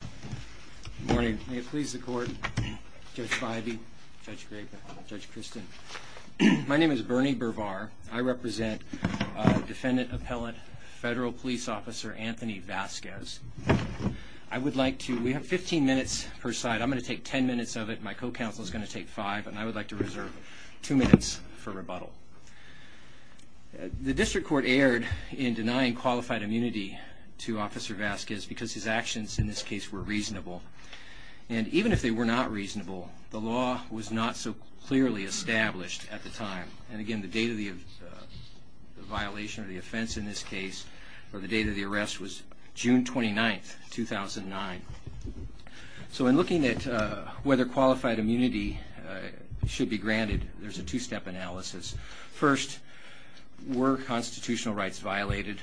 Good morning. May it please the court, Judge Bivey, Judge Graper, Judge Christin. My name is Bernie Bervar. I represent defendant, appellate, federal police officer Anthony Vasquez. I would like to, we have 15 minutes per side, I'm going to take 10 minutes of it, my co-counsel is going to take five, and I would like to reserve two minutes for rebuttal. The district court erred in denying qualified immunity to Officer Vasquez because his actions in this case were reasonable. And even if they were not reasonable, the law was not so clearly established at the time. And again, the date of the violation or the offense in this case, or the date of the arrest was June 29, 2009. So in looking at whether qualified immunity should be granted, there's a two-step analysis. First, were constitutional rights violated?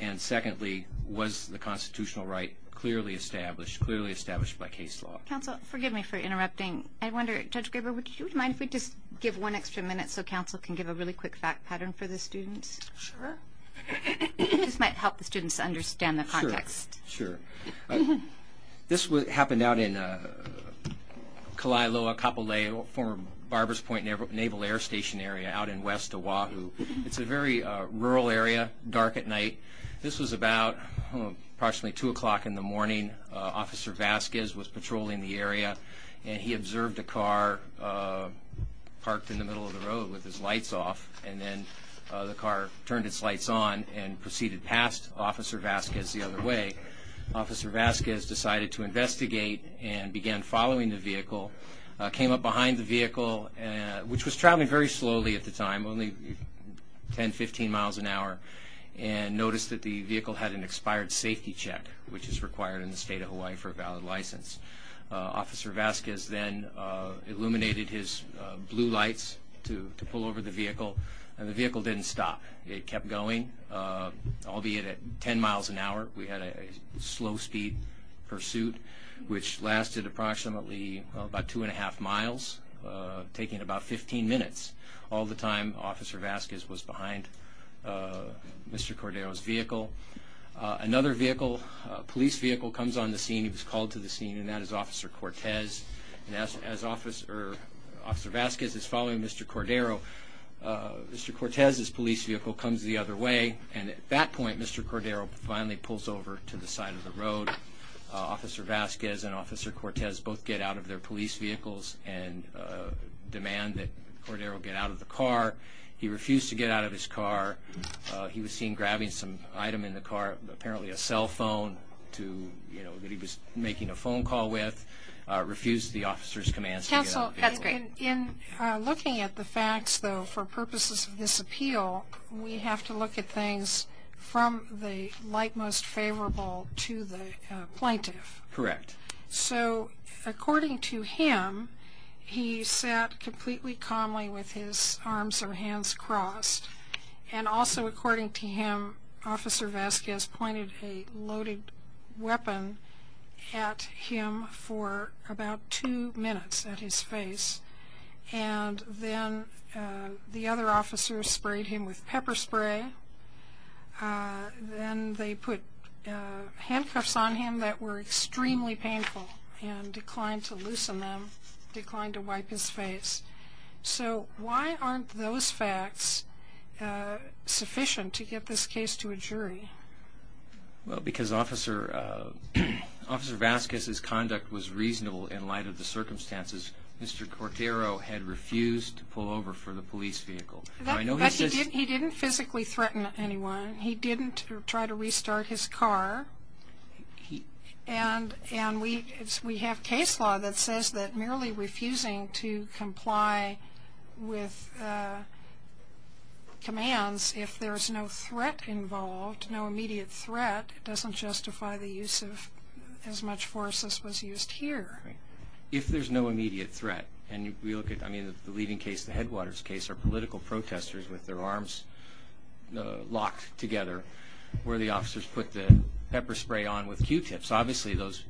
And secondly, was the constitutional right clearly established, clearly established by case law? Counsel, forgive me for interrupting. I wonder, Judge Graber, would you mind if we just give one extra minute so counsel can give a really quick fact pattern for the students? Sure. This might help the students understand the context. Sure. This happened out in Kalailoa, Kapolei, former This was about approximately 2 o'clock in the morning. Officer Vasquez was patrolling the area, and he observed a car parked in the middle of the road with his lights off, and then the car turned its lights on and proceeded past Officer Vasquez the other way. Officer Vasquez decided to investigate and began following the vehicle, came up behind the vehicle, which was traveling very slowly at the time, only 10-15 miles an hour, and noticed that the vehicle had an expired safety check, which is required in the state of Hawaii for a valid license. Officer Vasquez then illuminated his blue lights to pull over the vehicle, and the vehicle didn't stop. It kept going, albeit at 10 miles an hour. We had a slow speed pursuit, which lasted approximately about 2 1⁄2 miles, taking about 15 minutes, all the time Officer Vasquez was behind Mr. Cordero's vehicle. Another vehicle, police vehicle, comes on the scene. He was called to the scene, and that is Officer Cortez. As Officer Vasquez is following Mr. Cordero, Mr. Cortez's police vehicle comes the other way, and at that point, Mr. Cordero finally pulls over to the side of the road. Officer Vasquez and Officer Cortez both get out of their police vehicles and demand that Cordero get out of the car. He refused to get out of his car. He was seen grabbing some item in the car, apparently a cell phone, that he was making a phone call with. He refused the officer's commands. Counsel, in looking at the facts, though, for purposes of this appeal, we have to look at from the like-most favorable to the plaintiff. Correct. So, according to him, he sat completely calmly with his arms or hands crossed, and also, according to him, Officer Vasquez pointed a loaded weapon at him for about two minutes at his face, and then the other officers sprayed him with pepper and then they put handcuffs on him that were extremely painful and declined to loosen them, declined to wipe his face. So, why aren't those facts sufficient to get this case to a jury? Well, because Officer Vasquez's conduct was reasonable in light of the circumstances Mr. Cordero had refused to pull over for the police vehicle. But he didn't physically threaten anyone. He didn't try to restart his car. And we have case law that says that merely refusing to comply with commands, if there's no threat involved, no immediate threat, doesn't justify the use of as much force as was used here. If there's no immediate threat, and we look at, I think, the Whitewaters case, our political protesters with their arms locked together, where the officers put the pepper spray on with q-tips. Obviously, those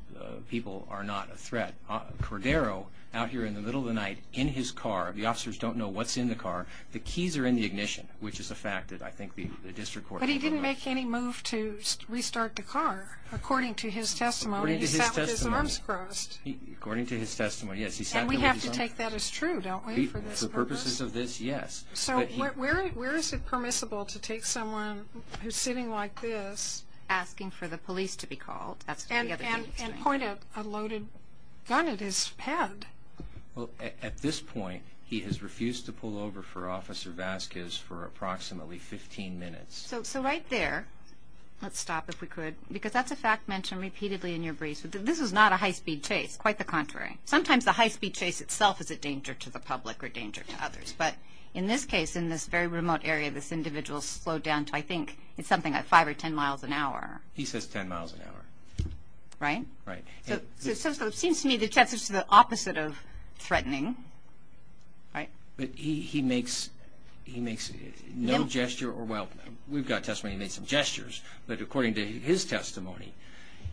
people are not a threat. Cordero, out here in the middle of the night, in his car, the officers don't know what's in the car. The keys are in the ignition, which is a fact that I think the district court... But he didn't make any move to restart the car, according to his testimony. He sat with his arms crossed. According to his testimony, yes. And we have to take that as true, don't we, for this purpose? For purposes of this, yes. So where is it permissible to take someone who's sitting like this... Asking for the police to be called. And point a loaded gun at his head. Well, at this point, he has refused to pull over for Officer Vasquez for approximately 15 minutes. So right there, let's stop if we could, because that's a fact mentioned repeatedly in your briefs. This is not a high-speed chase, quite the contrary. Sometimes the high-speed chase itself is a danger to the public or a danger to others. But in this case, in this very remote area, this individual slowed down to, I think, something like 5 or 10 miles an hour. He says 10 miles an hour. Right? Right. So it seems to me that that's just the opposite of threatening, right? But he makes no gesture or... Well, we've got testimony he made some gestures, but according to his testimony,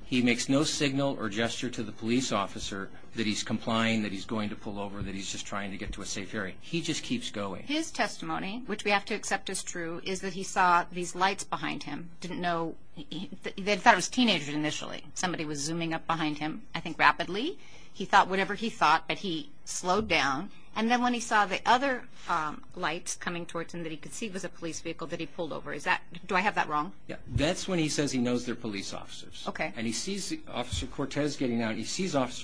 he makes no signal or gesture to the police officer that he's complying, that he's going to pull over, that he's just trying to get to a safe area. He just keeps going. His testimony, which we have to accept as true, is that he saw these lights behind him. Didn't know... They thought it was teenagers initially. Somebody was zooming up behind him, I think rapidly. He thought whatever he thought, but he slowed down. And then when he saw the other lights coming towards him that he could see was a police vehicle that he pulled over. Is that... Do I have that wrong? Yeah. That's when he says he sees Officer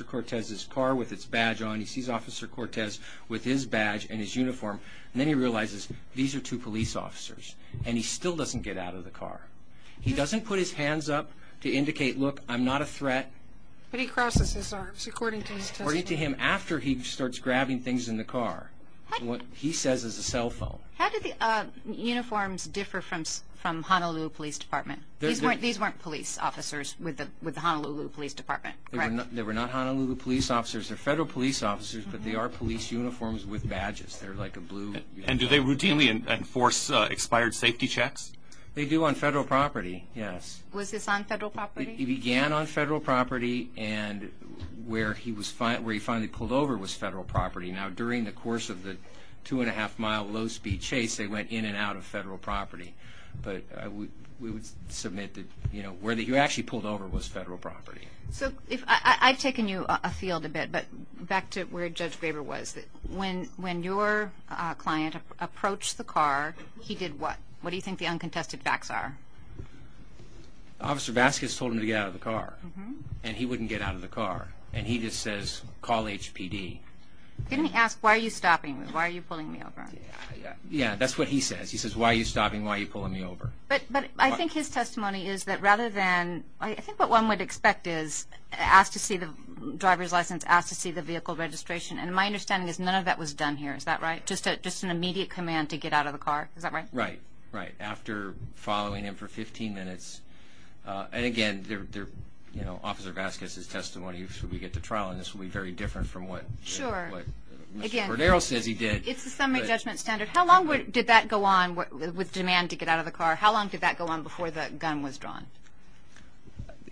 Cortez's car with its badge on. He sees Officer Cortez with his badge and his uniform, and then he realizes these are two police officers, and he still doesn't get out of the car. He doesn't put his hands up to indicate, look, I'm not a threat. But he crosses his arms, according to his testimony. According to him, after he starts grabbing things in the car, what he says is a cell phone. How did the uniforms differ from Honolulu Police Department? These weren't police officers with the Honolulu Police Department, correct? They were not Honolulu Police officers. They're federal police officers, but they are police uniforms with badges. They're like a blue... And do they routinely enforce expired safety checks? They do on federal property, yes. Was this on federal property? It began on federal property, and where he finally pulled over was federal property. Now, during the course of the two and a half mile low speed chase, they went in and out of federal property, but we would submit that where he actually pulled over was federal property. I've taken you afield a bit, but back to where Judge Graber was. When your client approached the car, he did what? What do you think the uncontested facts are? Officer Vasquez told him to get out of the car, and he wouldn't get out of the car, and he just says, call HPD. Didn't he ask, why are you stopping me? Why are you pulling me over? Yeah, that's what he says. He says, why are you stopping? Why are you pulling me over? But I think his testimony is that rather than... I think what one would expect is asked to see the driver's license, asked to see the vehicle registration, and my understanding is none of that was done here. Is that right? Just an immediate command to get out of the car. Is that right? Right, right. After following him for 15 minutes, and again, you know, Officer Vasquez's testimony, should we get to trial, and this will be very different from what Mr. Cordero says he did. It's the summary judgment standard. How long did that go on with demand to get out of the car? How long did that go on before the gun was drawn?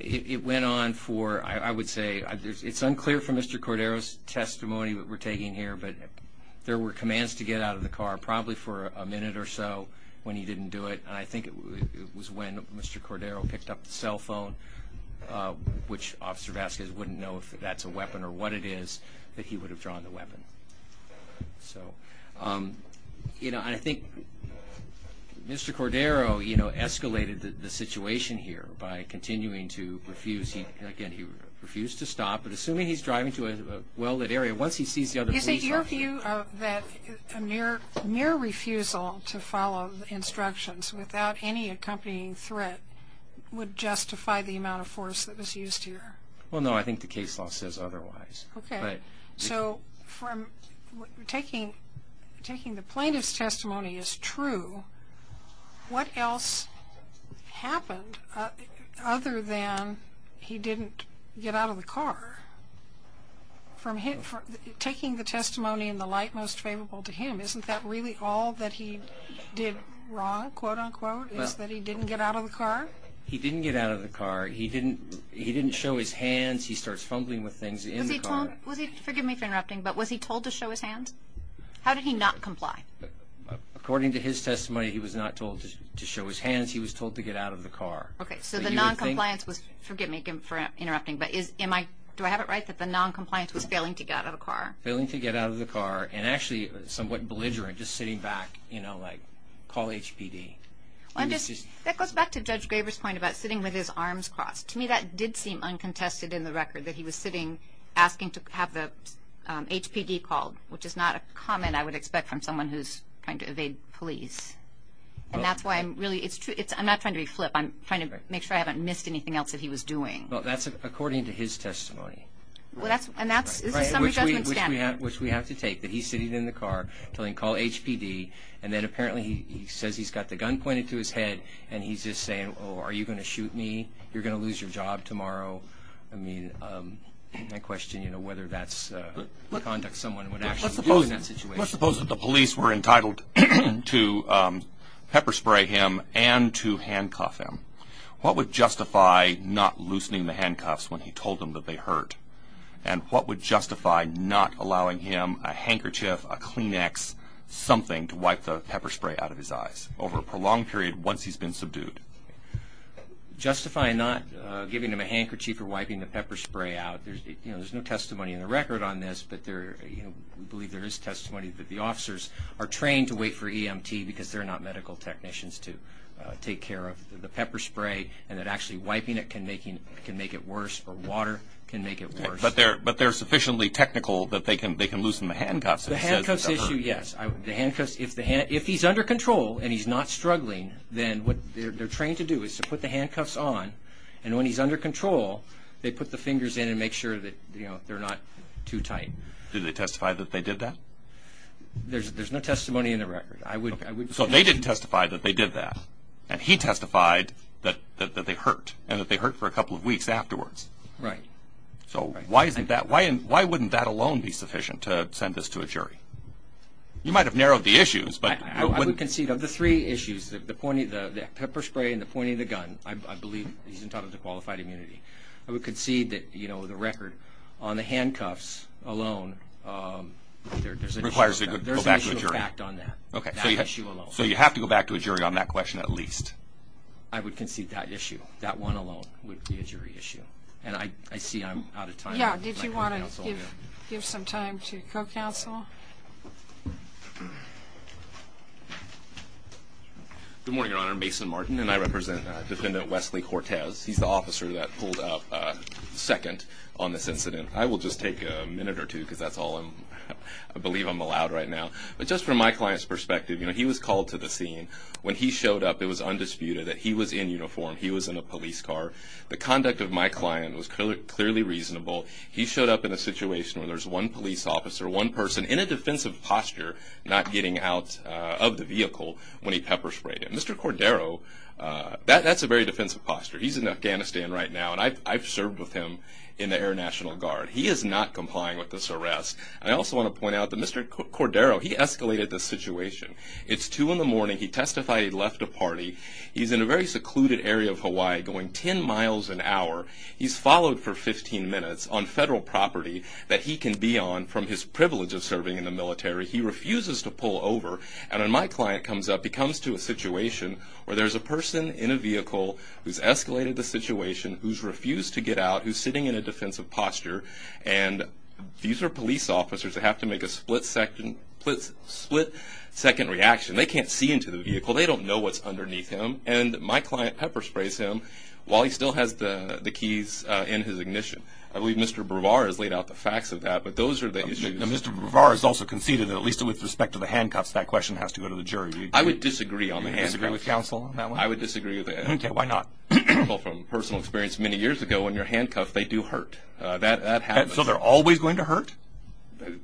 It went on for, I would say, it's unclear from Mr. Cordero's testimony that we're taking here, but there were commands to get out of the car probably for a minute or so when he didn't do it, and I think it was when Mr. Cordero picked up the cell phone, which Officer Vasquez wouldn't know if that's a weapon or what it is, that he would have drawn the weapon. So, you know, I think Mr. Cordero, you know, escalated the situation here by continuing to refuse. He, again, he refused to stop, but assuming he's driving to a well-lit area, once he sees the other... Is it your view of that mere refusal to follow the instructions without any accompanying threat would justify the amount of force that was used here? Well, no, I think the case law says otherwise. Okay, so from taking the plaintiff's testimony as true, what else happened other than he didn't get out of the car? From taking the testimony in the light most favorable to him, isn't that really all that he did wrong, quote-unquote, is that he didn't get out of the car? He didn't get out of the car. He didn't show his hands. He starts fumbling with things in the car. Was he, forgive me for interrupting, but was he told to show his hands? How did he not comply? According to his testimony, he was not told to show his hands. He was told to get out of the car. Okay, so the non-compliance was, forgive me for interrupting, but is, am I, do I have it right that the non-compliance was failing to get out of the car? Failing to get out of the car, and actually somewhat belligerent, just sitting back, you know, like, call HPD. Well, that goes back to Judge Graber's point about sitting with his arms crossed. To me, that did seem uncontested in the record, that he was sitting, asking to have the HPD called, which is not a comment I would expect from someone who's trying to evade police, and that's why I'm really, it's true, it's, I'm not trying to be flip, I'm trying to make sure I haven't missed anything else that he was doing. Well, that's according to his testimony. Well, that's, and that's, this is summary judgment to take, that he's sitting in the car telling, call HPD, and then apparently he says he's got the gun pointed to his head, and he's just saying, oh, are you going to shoot me? You're going to lose your job tomorrow. I mean, that question, you know, whether that's conduct someone would actually do in that situation. Let's suppose, let's suppose that the police were entitled to pepper spray him and to handcuff him. What would justify not loosening the handcuffs when he told them that they hurt? And what would justify not allowing him a handkerchief, a Kleenex, something to wipe the pepper spray out of his eyes over a prolonged period once he's been subdued? Justifying not giving him a handkerchief or wiping the pepper spray out, there's, you know, there's no testimony in the record on this, but there, you know, we believe there is testimony that the officers are trained to wait for EMT because they're not medical technicians to take care of the pepper spray, and that actually wiping it can make it worse, or water can make it worse. But they're sufficiently technical that they can loosen the handcuffs? The handcuffs issue, yes. The handcuffs, if he's under control and he's not struggling, then what they're trained to do is to put the handcuffs on, and when he's under control, they put the fingers in and make sure that, you know, they're not too tight. Did they testify that they did that? There's no testimony in the record. So they didn't testify that they did that, and he testified that they hurt, and that they hurt for a couple of weeks afterwards. Right. So why isn't that, why wouldn't that alone be sufficient to send this to a jury? You might have narrowed the issues, but... I would concede of the three issues, the point of the pepper spray and the point of the gun, I believe he's entitled to qualified immunity. I would concede that, you know, the record on the handcuffs alone requires a good fact on that. Okay. So you have to go back to a jury on that question, at least. I would concede that issue, that one alone would be a jury issue. And I see I'm out of time. Yeah. Did you want to give some time to co-counsel? Good morning, Your Honor. Mason Martin, and I represent Dependent Wesley Cortez. He's the officer that pulled up second on this incident. I will just take a minute or two, because that's all I believe I'm allowed right now. But just from my client's perspective, you know, he was called to the scene. When he showed up, it was undisputed that he was in uniform. He was in a police car. The conduct of my client was clearly reasonable. He showed up in a situation where there's one police officer, one person in a defensive posture, not getting out of the vehicle when he pepper sprayed him. Mr. Cordero, that's a very defensive posture. He's in Afghanistan right now, and I've served with him in the Air National Guard. He is not complying with this arrest. I also want to point out that Mr. Cordero, he escalated the situation. It's 2 in the morning. He testified he'd left a party. He's in a very secluded area of Hawaii going 10 miles an hour. He's followed for 15 minutes on federal property that he can be on from his privilege of serving in the military. He refuses to pull over. And when my client comes up, he comes to a situation where there's a person in a vehicle who's escalated the situation, who's refused to get out, who's sitting in a defensive posture, and these are police officers that have to make a split-second reaction. They can't see into the vehicle. They don't know what's underneath him, and my client pepper sprays him while he still has the keys in his ignition. I believe Mr. Brevard has laid out the facts of that, but those are the issues. Mr. Brevard has also conceded that at least with respect to the handcuffs, that question has to go to the jury. I would disagree on the handcuffs. You disagree with counsel on that one? I would disagree with that. Okay, why not? People from personal experience many years ago, when you're handcuffed, they do hurt. That happens. So they're always going to hurt?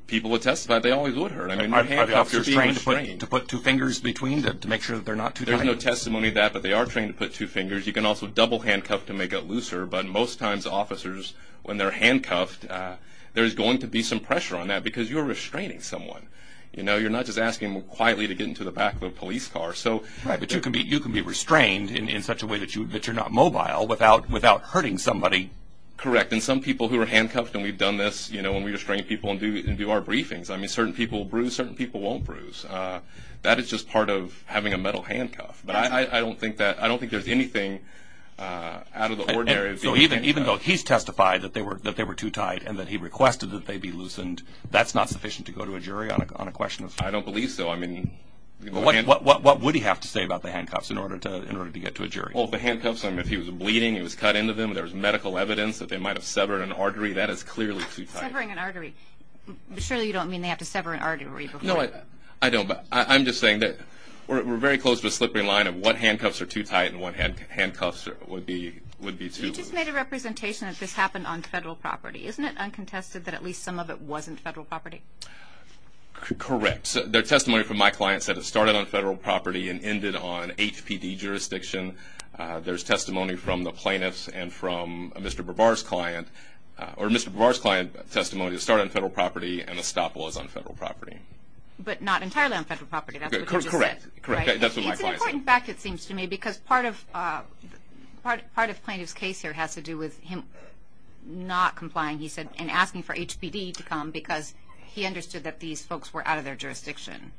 People who testify, they always would hurt. I mean, handcuffs are being restrained. Are they trained to put two fingers between them to make sure that they're not too tight? There's no testimony to that, but they are trained to put two fingers. You can also double handcuff to make it looser, but most times, officers, when they're handcuffed, there's going to be some pressure on that because you're restraining someone. You know, you're not just asking them to go to the back of a police car. Right, but you can be restrained in such a way that you're not mobile without hurting somebody. Correct, and some people who are handcuffed, and we've done this, you know, when we restrain people and do our briefings. I mean, certain people will bruise, certain people won't bruise. That is just part of having a metal handcuff, but I don't think there's anything out of the ordinary. So even though he's testified that they were too tight and that he requested that they be loosened, that's not sufficient to go to a jury on a question of... I don't believe so. I mean, what would he have to say about the handcuffs in order to get to a jury? Well, the handcuffs, I mean, if he was bleeding, he was cut into them, there was medical evidence that they might have severed an artery. That is clearly too tight. Severing an artery? Surely you don't mean they have to sever an artery before... No, I don't, but I'm just saying that we're very close to a slipping line of what handcuffs are too tight and what handcuffs would be too loose. You just made a representation that this happened on federal property. Correct. Their testimony from my client said it started on federal property and ended on HPD jurisdiction. There's testimony from the plaintiff's and from Mr. Brevard's client, or Mr. Brevard's client's testimony, it started on federal property and Estoppel is on federal property. But not entirely on federal property, that's what you just said. Correct. That's what my client said. It's an important fact, it seems to me, because part of plaintiff's case here has to do with him not complying, he said, and asking for HPD to come because he understood that these folks were out of their jurisdiction.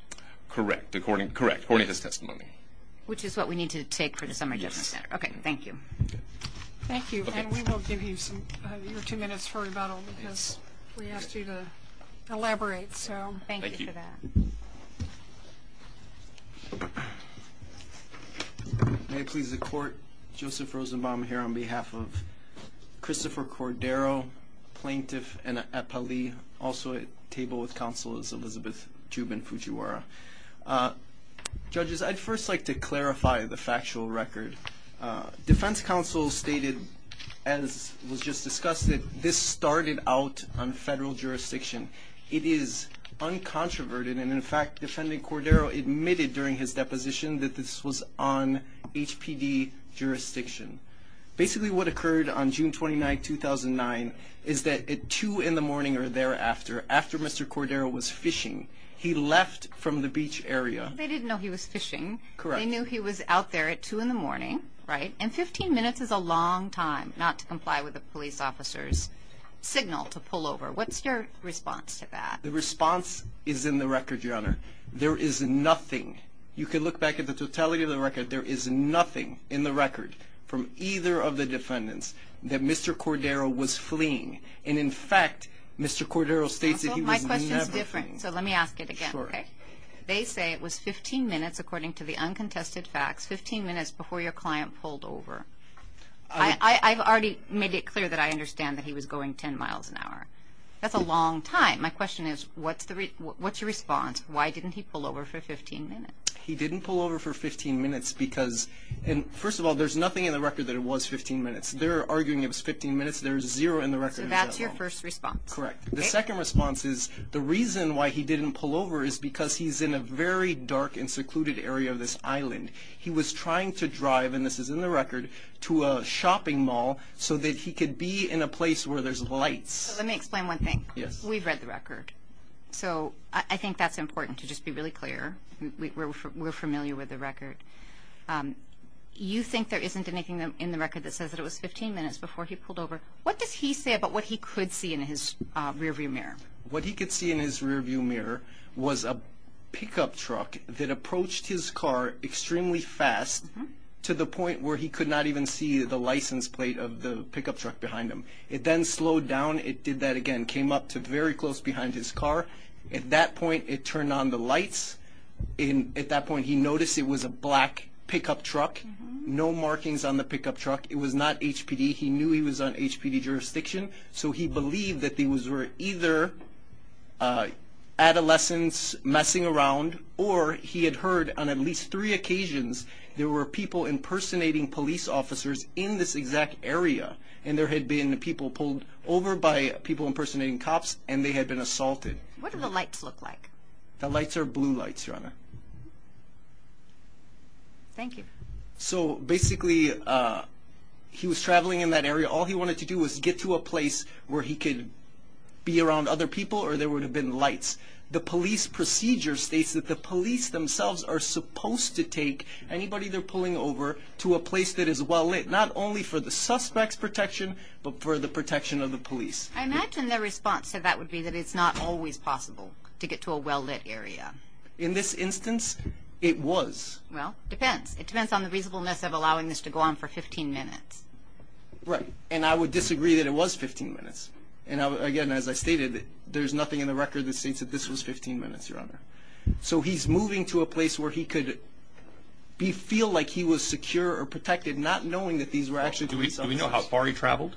Correct, according to his testimony. Which is what we need to take for the Summer Judgment Center. Okay, thank you. Thank you, and we will give you some, your two minutes for rebuttal because we asked you to elaborate, so thank you for that. May it please the court, Joseph Rosenbaum here on behalf of Christopher Cordero, plaintiff and Epali, also at table with counsel is Elizabeth Jubin-Fujiwara. Judges, I'd first like to clarify the factual record. Defense counsel stated, as was just discussed, that this started out on federal jurisdiction. It is uncontroverted, and in fact, defendant Cordero admitted during his deposition that this was on HPD jurisdiction. Basically, what occurred on June 29, 2009, is that at 2 in the morning or thereafter, after Mr. Cordero was fishing, he left from the beach area. They didn't know he was fishing. Correct. They knew he was out there at 2 in the morning, right? And 15 minutes is a long time not to comply with the police officer's signal to pull over. What's your response to that? The response is in the record, Your Honor. There is nothing. You can look back at the totality of the record. There is nothing in the record from either of the defendants that Mr. Cordero was fleeing, and in fact, Mr. Cordero states that he was never fleeing. My question is different, so let me ask it again. Sure. They say it was 15 minutes, according to the uncontested facts, 15 minutes before your client pulled over. I've already made it clear that I understand that he was going 10 miles an hour. That's a long time. My question is, what's your response? Why didn't he pull over for 15 minutes? He didn't pull over for 15 minutes because, first of all, there's nothing in the record that it was 15 minutes. They're arguing it was 15 minutes. There is zero in the record. So that's your response. Correct. The second response is the reason why he didn't pull over is because he's in a very dark and secluded area of this island. He was trying to drive, and this is in the record, to a shopping mall so that he could be in a place where there's lights. Let me explain one thing. Yes. We've read the record, so I think that's important to just be really clear. We're familiar with the record. You think there isn't anything in the record that says that it was 15 minutes before he pulled over. What does he say about what he could see in his rearview mirror? What he could see in his rearview mirror was a pickup truck that approached his car extremely fast to the point where he could not even see the license plate of the pickup truck behind him. It then slowed down. It did that again, came up to very close behind his car. At that point, it turned on the lights. At that point, he noticed it was a black pickup truck, no markings on the pickup truck. It was not HPD. He knew he was on HPD jurisdiction, so he believed that these were either adolescents messing around, or he had heard on at least three occasions there were people impersonating police officers in this exact area. There had been people pulled over by people impersonating cops, and they had been assaulted. What do the lights look like? The lights are blue lights, your honor. Thank you. So basically, he was traveling in that area. All he wanted to do was get to a place where he could be around other people, or there would have been lights. The police procedure states that the police themselves are supposed to take anybody they're pulling over to a place that is well lit, not only for the suspect's protection, but for the protection of the police. I imagine their response to that would be that it's not always possible to get to a well-lit area. In this instance, it was. Well, it depends. It depends on the reasonableness of allowing this to go on for 15 minutes. Right. And I would disagree that it was 15 minutes. And again, as I stated, there's nothing in the record that states that this was 15 minutes, your honor. So he's moving to a place where he could feel like he was secure or protected, not knowing that these were actually police officers. Do we know how far he traveled?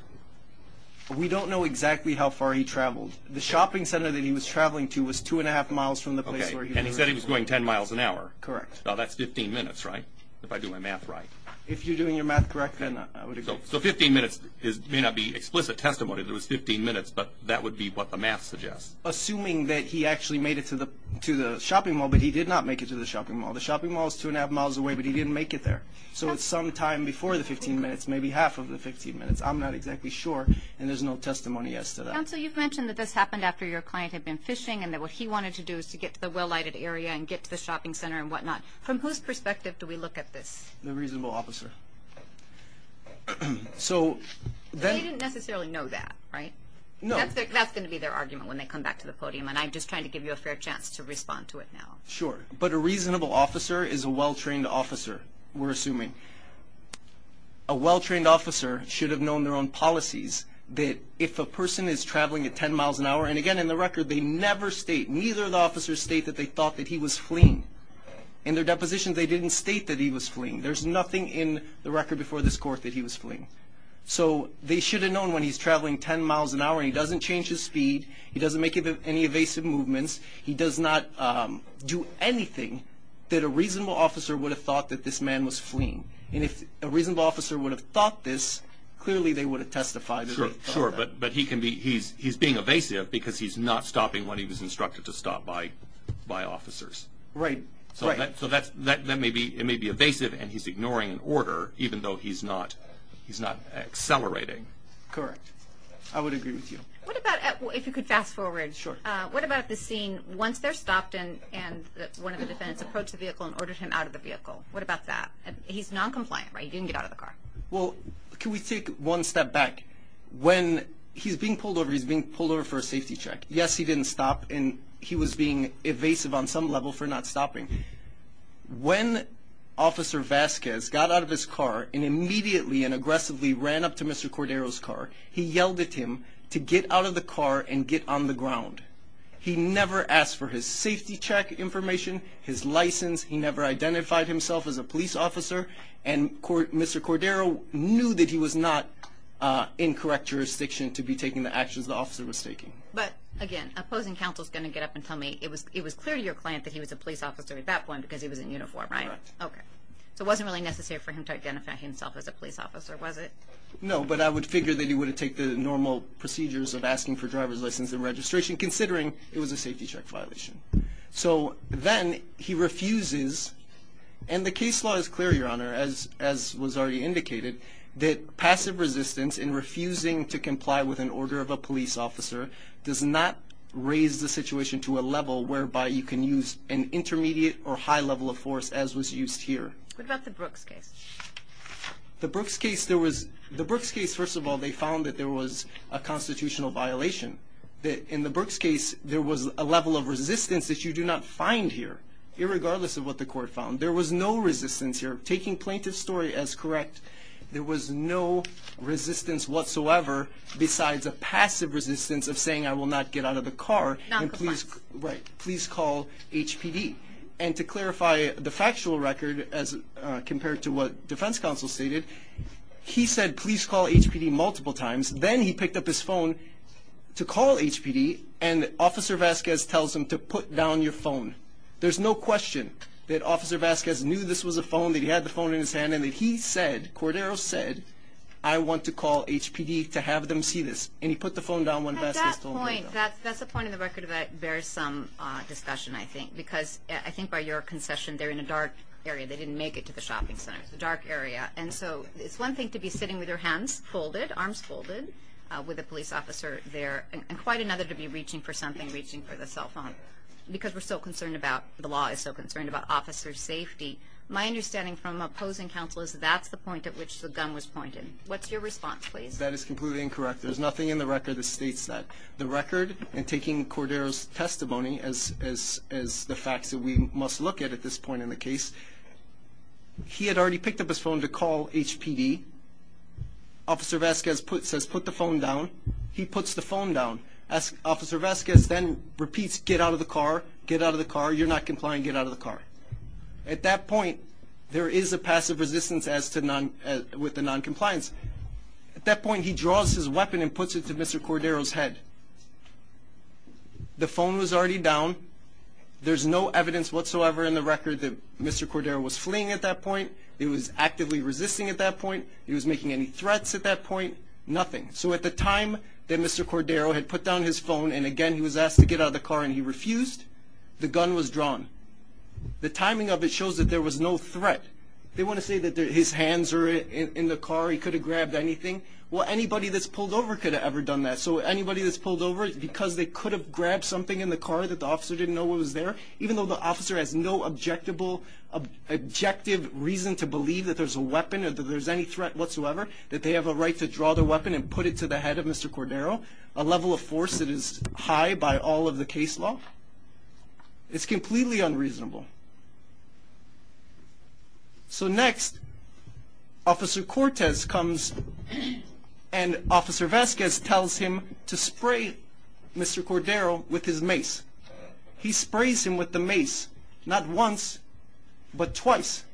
We don't know exactly how far he traveled. The shopping center that he was traveling to was two and a half miles from the place where he was. And he said he was going 10 miles an hour. Correct. Now that's 15 minutes, right? If I do my math right. If you're doing your math correct, then I would agree. So 15 minutes may not be explicit testimony that it was 15 minutes, but that would be what the math suggests. Assuming that he actually made it to the shopping mall, but he did not make it to the shopping mall. The shopping mall is two and a half miles away, but he didn't make it there. So it's sometime before the 15 minutes, maybe half of the 15 minutes. I'm not exactly sure. And there's no testimony as to that. Counsel, you've mentioned that this happened after your client had been fishing and that what he wanted to do is to get to the well-lighted area and get to the shopping center and whatnot. From whose perspective do we look at this? The reasonable officer. So they didn't necessarily know that, right? No. That's going to be their argument when they come back to the podium. And I'm just trying to give you a fair chance to respond to it now. Sure. But a reasonable officer is a well-trained officer, we're assuming. A well-trained officer should have known their own policies that if a person is traveling at 10 miles an hour, and again, in the record, they never state, neither of the officers state that they thought that he was fleeing. In their depositions, they didn't state that he was fleeing. There's nothing in the record before this court that he was fleeing. So they should have known when he's traveling 10 miles an hour and he doesn't change his speed, he doesn't make any evasive movements, he does not do anything that a reasonable officer would have thought that this man was fleeing. And if a reasonable officer would have thought this, clearly they would have testified. Sure, but he's being evasive because he's not stopping when he was instructed to stop by officers. Right. So it may be evasive and he's ignoring an order even though he's not accelerating. Correct. I would agree with you. What about, if you could fast forward, what about the scene once they're stopped and one of the defendants approached the vehicle and what about that? He's non-compliant, right? He didn't get out of the car. Well, can we take one step back? When he's being pulled over, he's being pulled over for a safety check. Yes, he didn't stop and he was being evasive on some level for not stopping. When Officer Vasquez got out of his car and immediately and aggressively ran up to Mr. Cordero's car, he yelled at him to get out of the car and get on the ground. He never asked for his safety check information, his license. He never identified himself as a police officer and Mr. Cordero knew that he was not in correct jurisdiction to be taking the actions the officer was taking. But again, opposing counsel is going to get up and tell me it was clear to your client that he was a police officer at that point because he was in uniform, right? Correct. Okay. So it wasn't really necessary for him to identify himself as a police officer, was it? No, but I would figure that he would have taken the normal procedures of asking for driver's license and safety check violation. So then he refuses, and the case law is clear, Your Honor, as was already indicated, that passive resistance in refusing to comply with an order of a police officer does not raise the situation to a level whereby you can use an intermediate or high level of force as was used here. What about the Brooks case? The Brooks case, there was, the Brooks case, first of all, they found that there was a constitutional violation. In the Brooks case, there was a level of resistance that you do not find here, irregardless of what the court found. There was no resistance here. Taking plaintiff's story as correct, there was no resistance whatsoever besides a passive resistance of saying, I will not get out of the car. Noncompliance. Right. Please call HPD. And to clarify the factual record as compared to what defense counsel stated, he said, please call HPD multiple times. Then he picked up his phone to call HPD, and Officer Vasquez tells him to put down your phone. There's no question that Officer Vasquez knew this was a phone, that he had the phone in his hand, and that he said, Cordero said, I want to call HPD to have them see this. And he put the phone down when Vasquez told him to. That's a point in the record that bears some discussion, I think, because I think by your concession, they're in a dark area. They didn't make it to the shopping center. It's a dark area. And so it's one thing to be sitting with your hands folded, arms folded, with a police officer there, and quite another to be reaching for something, reaching for the cell phone, because we're so concerned about, the law is so concerned about officer safety. My understanding from opposing counsel is that that's the point at which the gun was pointed. What's your response, please? That is completely incorrect. There's nothing in the record that states that. The record, in taking Cordero's testimony as the facts that we must look at at this point in the case, he had already picked up his phone to call HPD. Officer Vasquez says, put the phone down. He puts the phone down. Officer Vasquez then repeats, get out of the car, get out of the car. You're not complying, get out of the car. At that point, there is a passive resistance with the non-compliance. At that point, he draws his weapon and puts it to Mr. Cordero's head. The phone was already down. There's no evidence whatsoever in the record that Mr. Cordero's fleeing at that point. He was actively resisting at that point. He was making any threats at that point. Nothing. So at the time that Mr. Cordero had put down his phone, and again, he was asked to get out of the car and he refused, the gun was drawn. The timing of it shows that there was no threat. They want to say that his hands are in the car. He could have grabbed anything. Well, anybody that's pulled over could have ever done that. So anybody that's pulled over, because they could have grabbed something in the car that the officer didn't know was there, even though the officer has no objective reason to believe that there's a weapon or that there's any threat whatsoever, that they have a right to draw their weapon and put it to the head of Mr. Cordero, a level of force that is high by all of the case law. It's completely unreasonable. So next, Officer Cortez comes and Officer Vasquez tells him to spray Mr. Cordero with his mace. He sprays him with the mace, not once, but twice.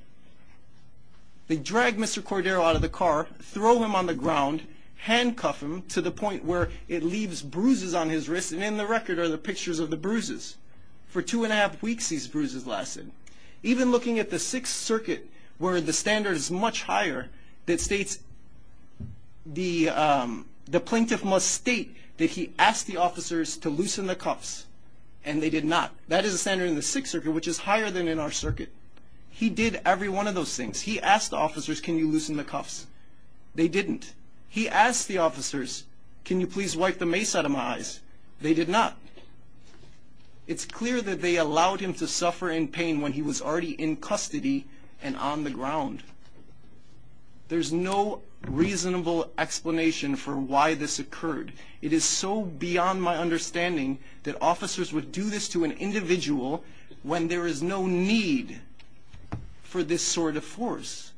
They drag Mr. Cordero out of the car, throw him on the ground, handcuff him to the point where it leaves bruises on his wrist, and in the record are the pictures of the bruises. For two and a half weeks, these bruises lasted. Even looking at the Sixth Circuit, where the standard is much higher, that states the plaintiff must state that he asked the officers to loosen the cuffs, and they did not. That is a standard in the Sixth Circuit, which is higher than in our circuit. He did every one of those things. He asked the officers, can you loosen the cuffs? They didn't. He asked the officers, can you please wipe the mace out of my eyes? They did not. It's clear that they allowed him to suffer in pain when he was already in custody and on the ground. There's no reasonable explanation for why this occurred. It is so beyond my understanding that officers would do this to an individual when there is no need for this sort of force.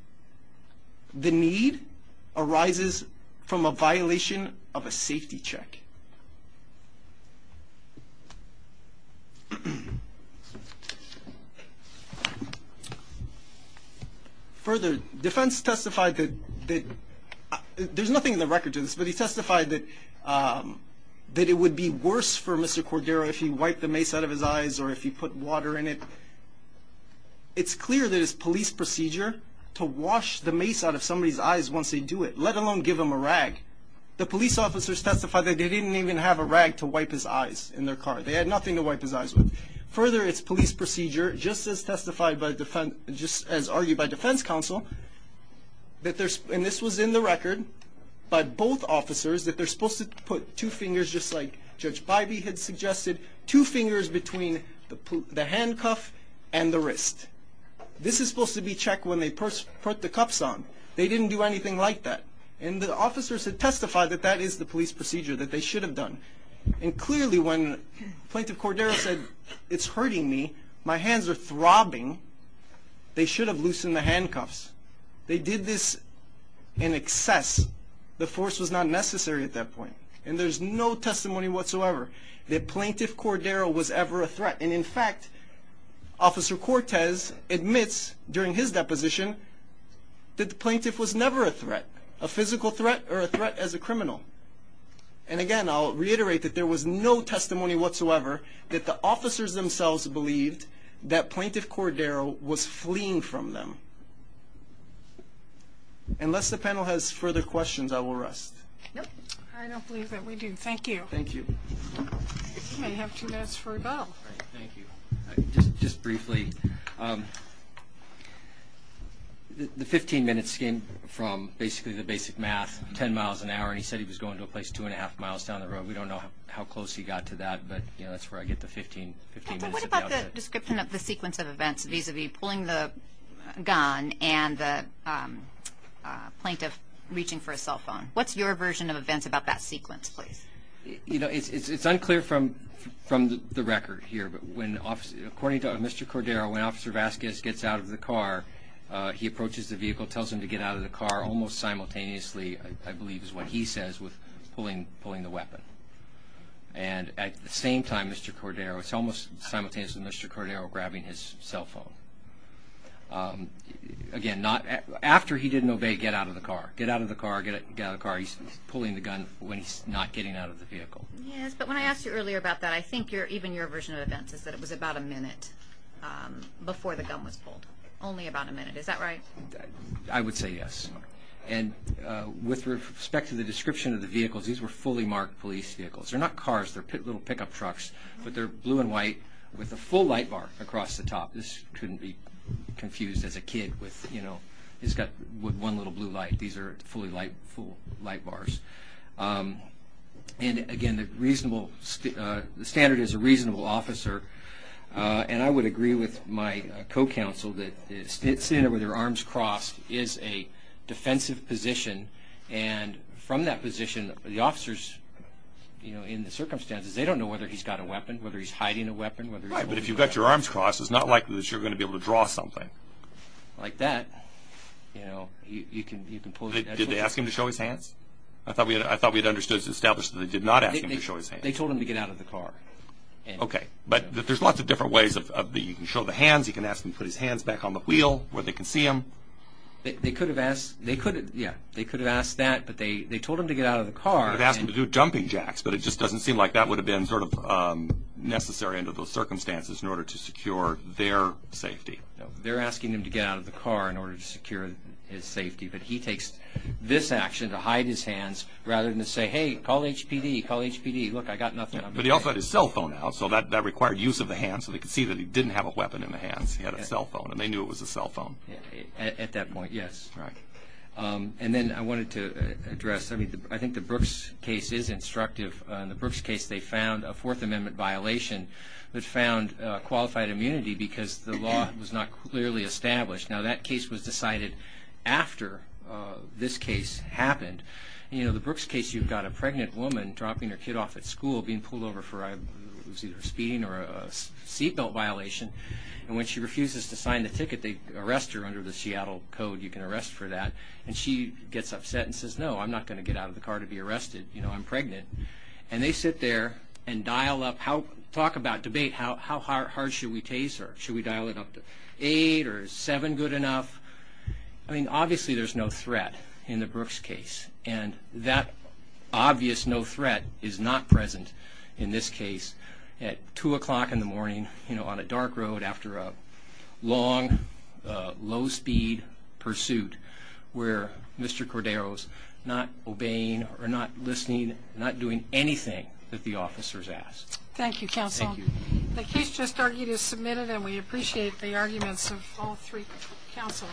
The need arises from a violation of a safety check. Further, defense testified that, there's nothing in the record to this, but he testified that it would be worse for Mr. Cordero if he wiped the mace out of his eyes or if he put water in it. It's clear that it's police procedure to wash the mace out of somebody's eyes once they do it, let alone give them a rag. The police officers testified that they didn't even have a rag to wipe his eyes in their car. They had nothing to wipe his eyes with. Further, it's police procedure, just as argued by defense counsel, and this was in the record by both officers, that they're supposed to put two fingers, just like Judge Bybee had suggested, two fingers between the handcuff and the wrist. This is supposed to be checked when they put the cuffs on. They didn't do anything like that. The officers had testified that that is the police procedure that they were supposed to do. They did this in excess. The force was not necessary at that point, and there's no testimony whatsoever that Plaintiff Cordero was ever a threat. In fact, Officer Cortez admits during his deposition that the plaintiff was never a threat, a physical threat or a threat as a criminal. Again, I'll reiterate that there was no testimony whatsoever that the officers themselves believed that Plaintiff Cordero was fleeing from them. Unless the panel has further questions, I will rest. I don't believe that we do. Thank you. Thank you. You may have two minutes for rebuttal. Thank you. Just briefly, the 15 minutes came from basically the basic math, 10 miles an hour, and he said he was going to a but that's where I get the 15 minutes. What about the description of the sequence of events vis-a-vis pulling the gun and the plaintiff reaching for a cell phone? What's your version of events about that sequence, please? It's unclear from the record here, but according to Mr. Cordero, when Officer Vasquez gets out of the car, he approaches the vehicle, tells him to get out of the car almost simultaneously, I believe is what he says, with pulling the weapon. And at the same time, Mr. Cordero, it's almost simultaneously Mr. Cordero grabbing his cell phone. Again, after he didn't obey, get out of the car, get out of the car, get out of the car. He's pulling the gun when he's not getting out of the vehicle. Yes, but when I asked you earlier about that, I think even your version of events is that it was about a minute before the gun was pulled, only about a minute. Is that right? I would say yes. And with respect to the description of the little pickup trucks, but they're blue and white with a full light bar across the top. This couldn't be confused as a kid with, you know, he's got one little blue light. These are fully light bars. And again, the standard is a reasonable officer. And I would agree with my co-counsel that sitting there with their arms crossed is a defensive position. And from that they don't know whether he's got a weapon, whether he's hiding a weapon. Right. But if you've got your arms crossed, it's not likely that you're going to be able to draw something like that. You know, you can, you can pull it. Did they ask him to show his hands? I thought we had, I thought we had understood, established that they did not ask him to show his hands. They told him to get out of the car. Okay. But there's lots of different ways of the, you can show the hands, you can ask them to put his hands back on the wheel where they can see him. They could have asked, they could, yeah, they could have asked that, but they, they told him to get out of the car. They could have asked him to do jumping jacks, but it just doesn't seem like that would have been sort of necessary under those circumstances in order to secure their safety. They're asking him to get out of the car in order to secure his safety. But he takes this action to hide his hands rather than to say, hey, call HPD, call HPD. Look, I got nothing. But he also had his cell phone out. So that, that required use of the hands so they could see that he didn't have a weapon in the hands. He had a cell phone and they knew it was a cell phone. At that point, yes. Right. And then I wanted to address, I mean, I think the Brooks case is instructive. In the Brooks case, they found a Fourth Amendment violation that found qualified immunity because the law was not clearly established. Now that case was decided after this case happened. You know, the Brooks case, you've got a pregnant woman dropping her kid off at school, being pulled over for either speeding or a seat belt violation. And when she refuses to sign the ticket, they arrest her under the Seattle code. You can arrest for that. And she gets upset and says, no, I'm not going to get out of the car to be arrested. You know, I'm pregnant. And they sit there and dial up how, talk about, debate how, how hard should we tase her? Should we dial it up to eight or seven good enough? I mean, obviously there's no threat in the Brooks case. And that obvious no threat is not present in this case. At two o'clock in the long, low speed pursuit where Mr. Cordero's not obeying or not listening, not doing anything that the officers asked. Thank you, counsel. The case just argued is submitted and we appreciate the arguments of all three counsel.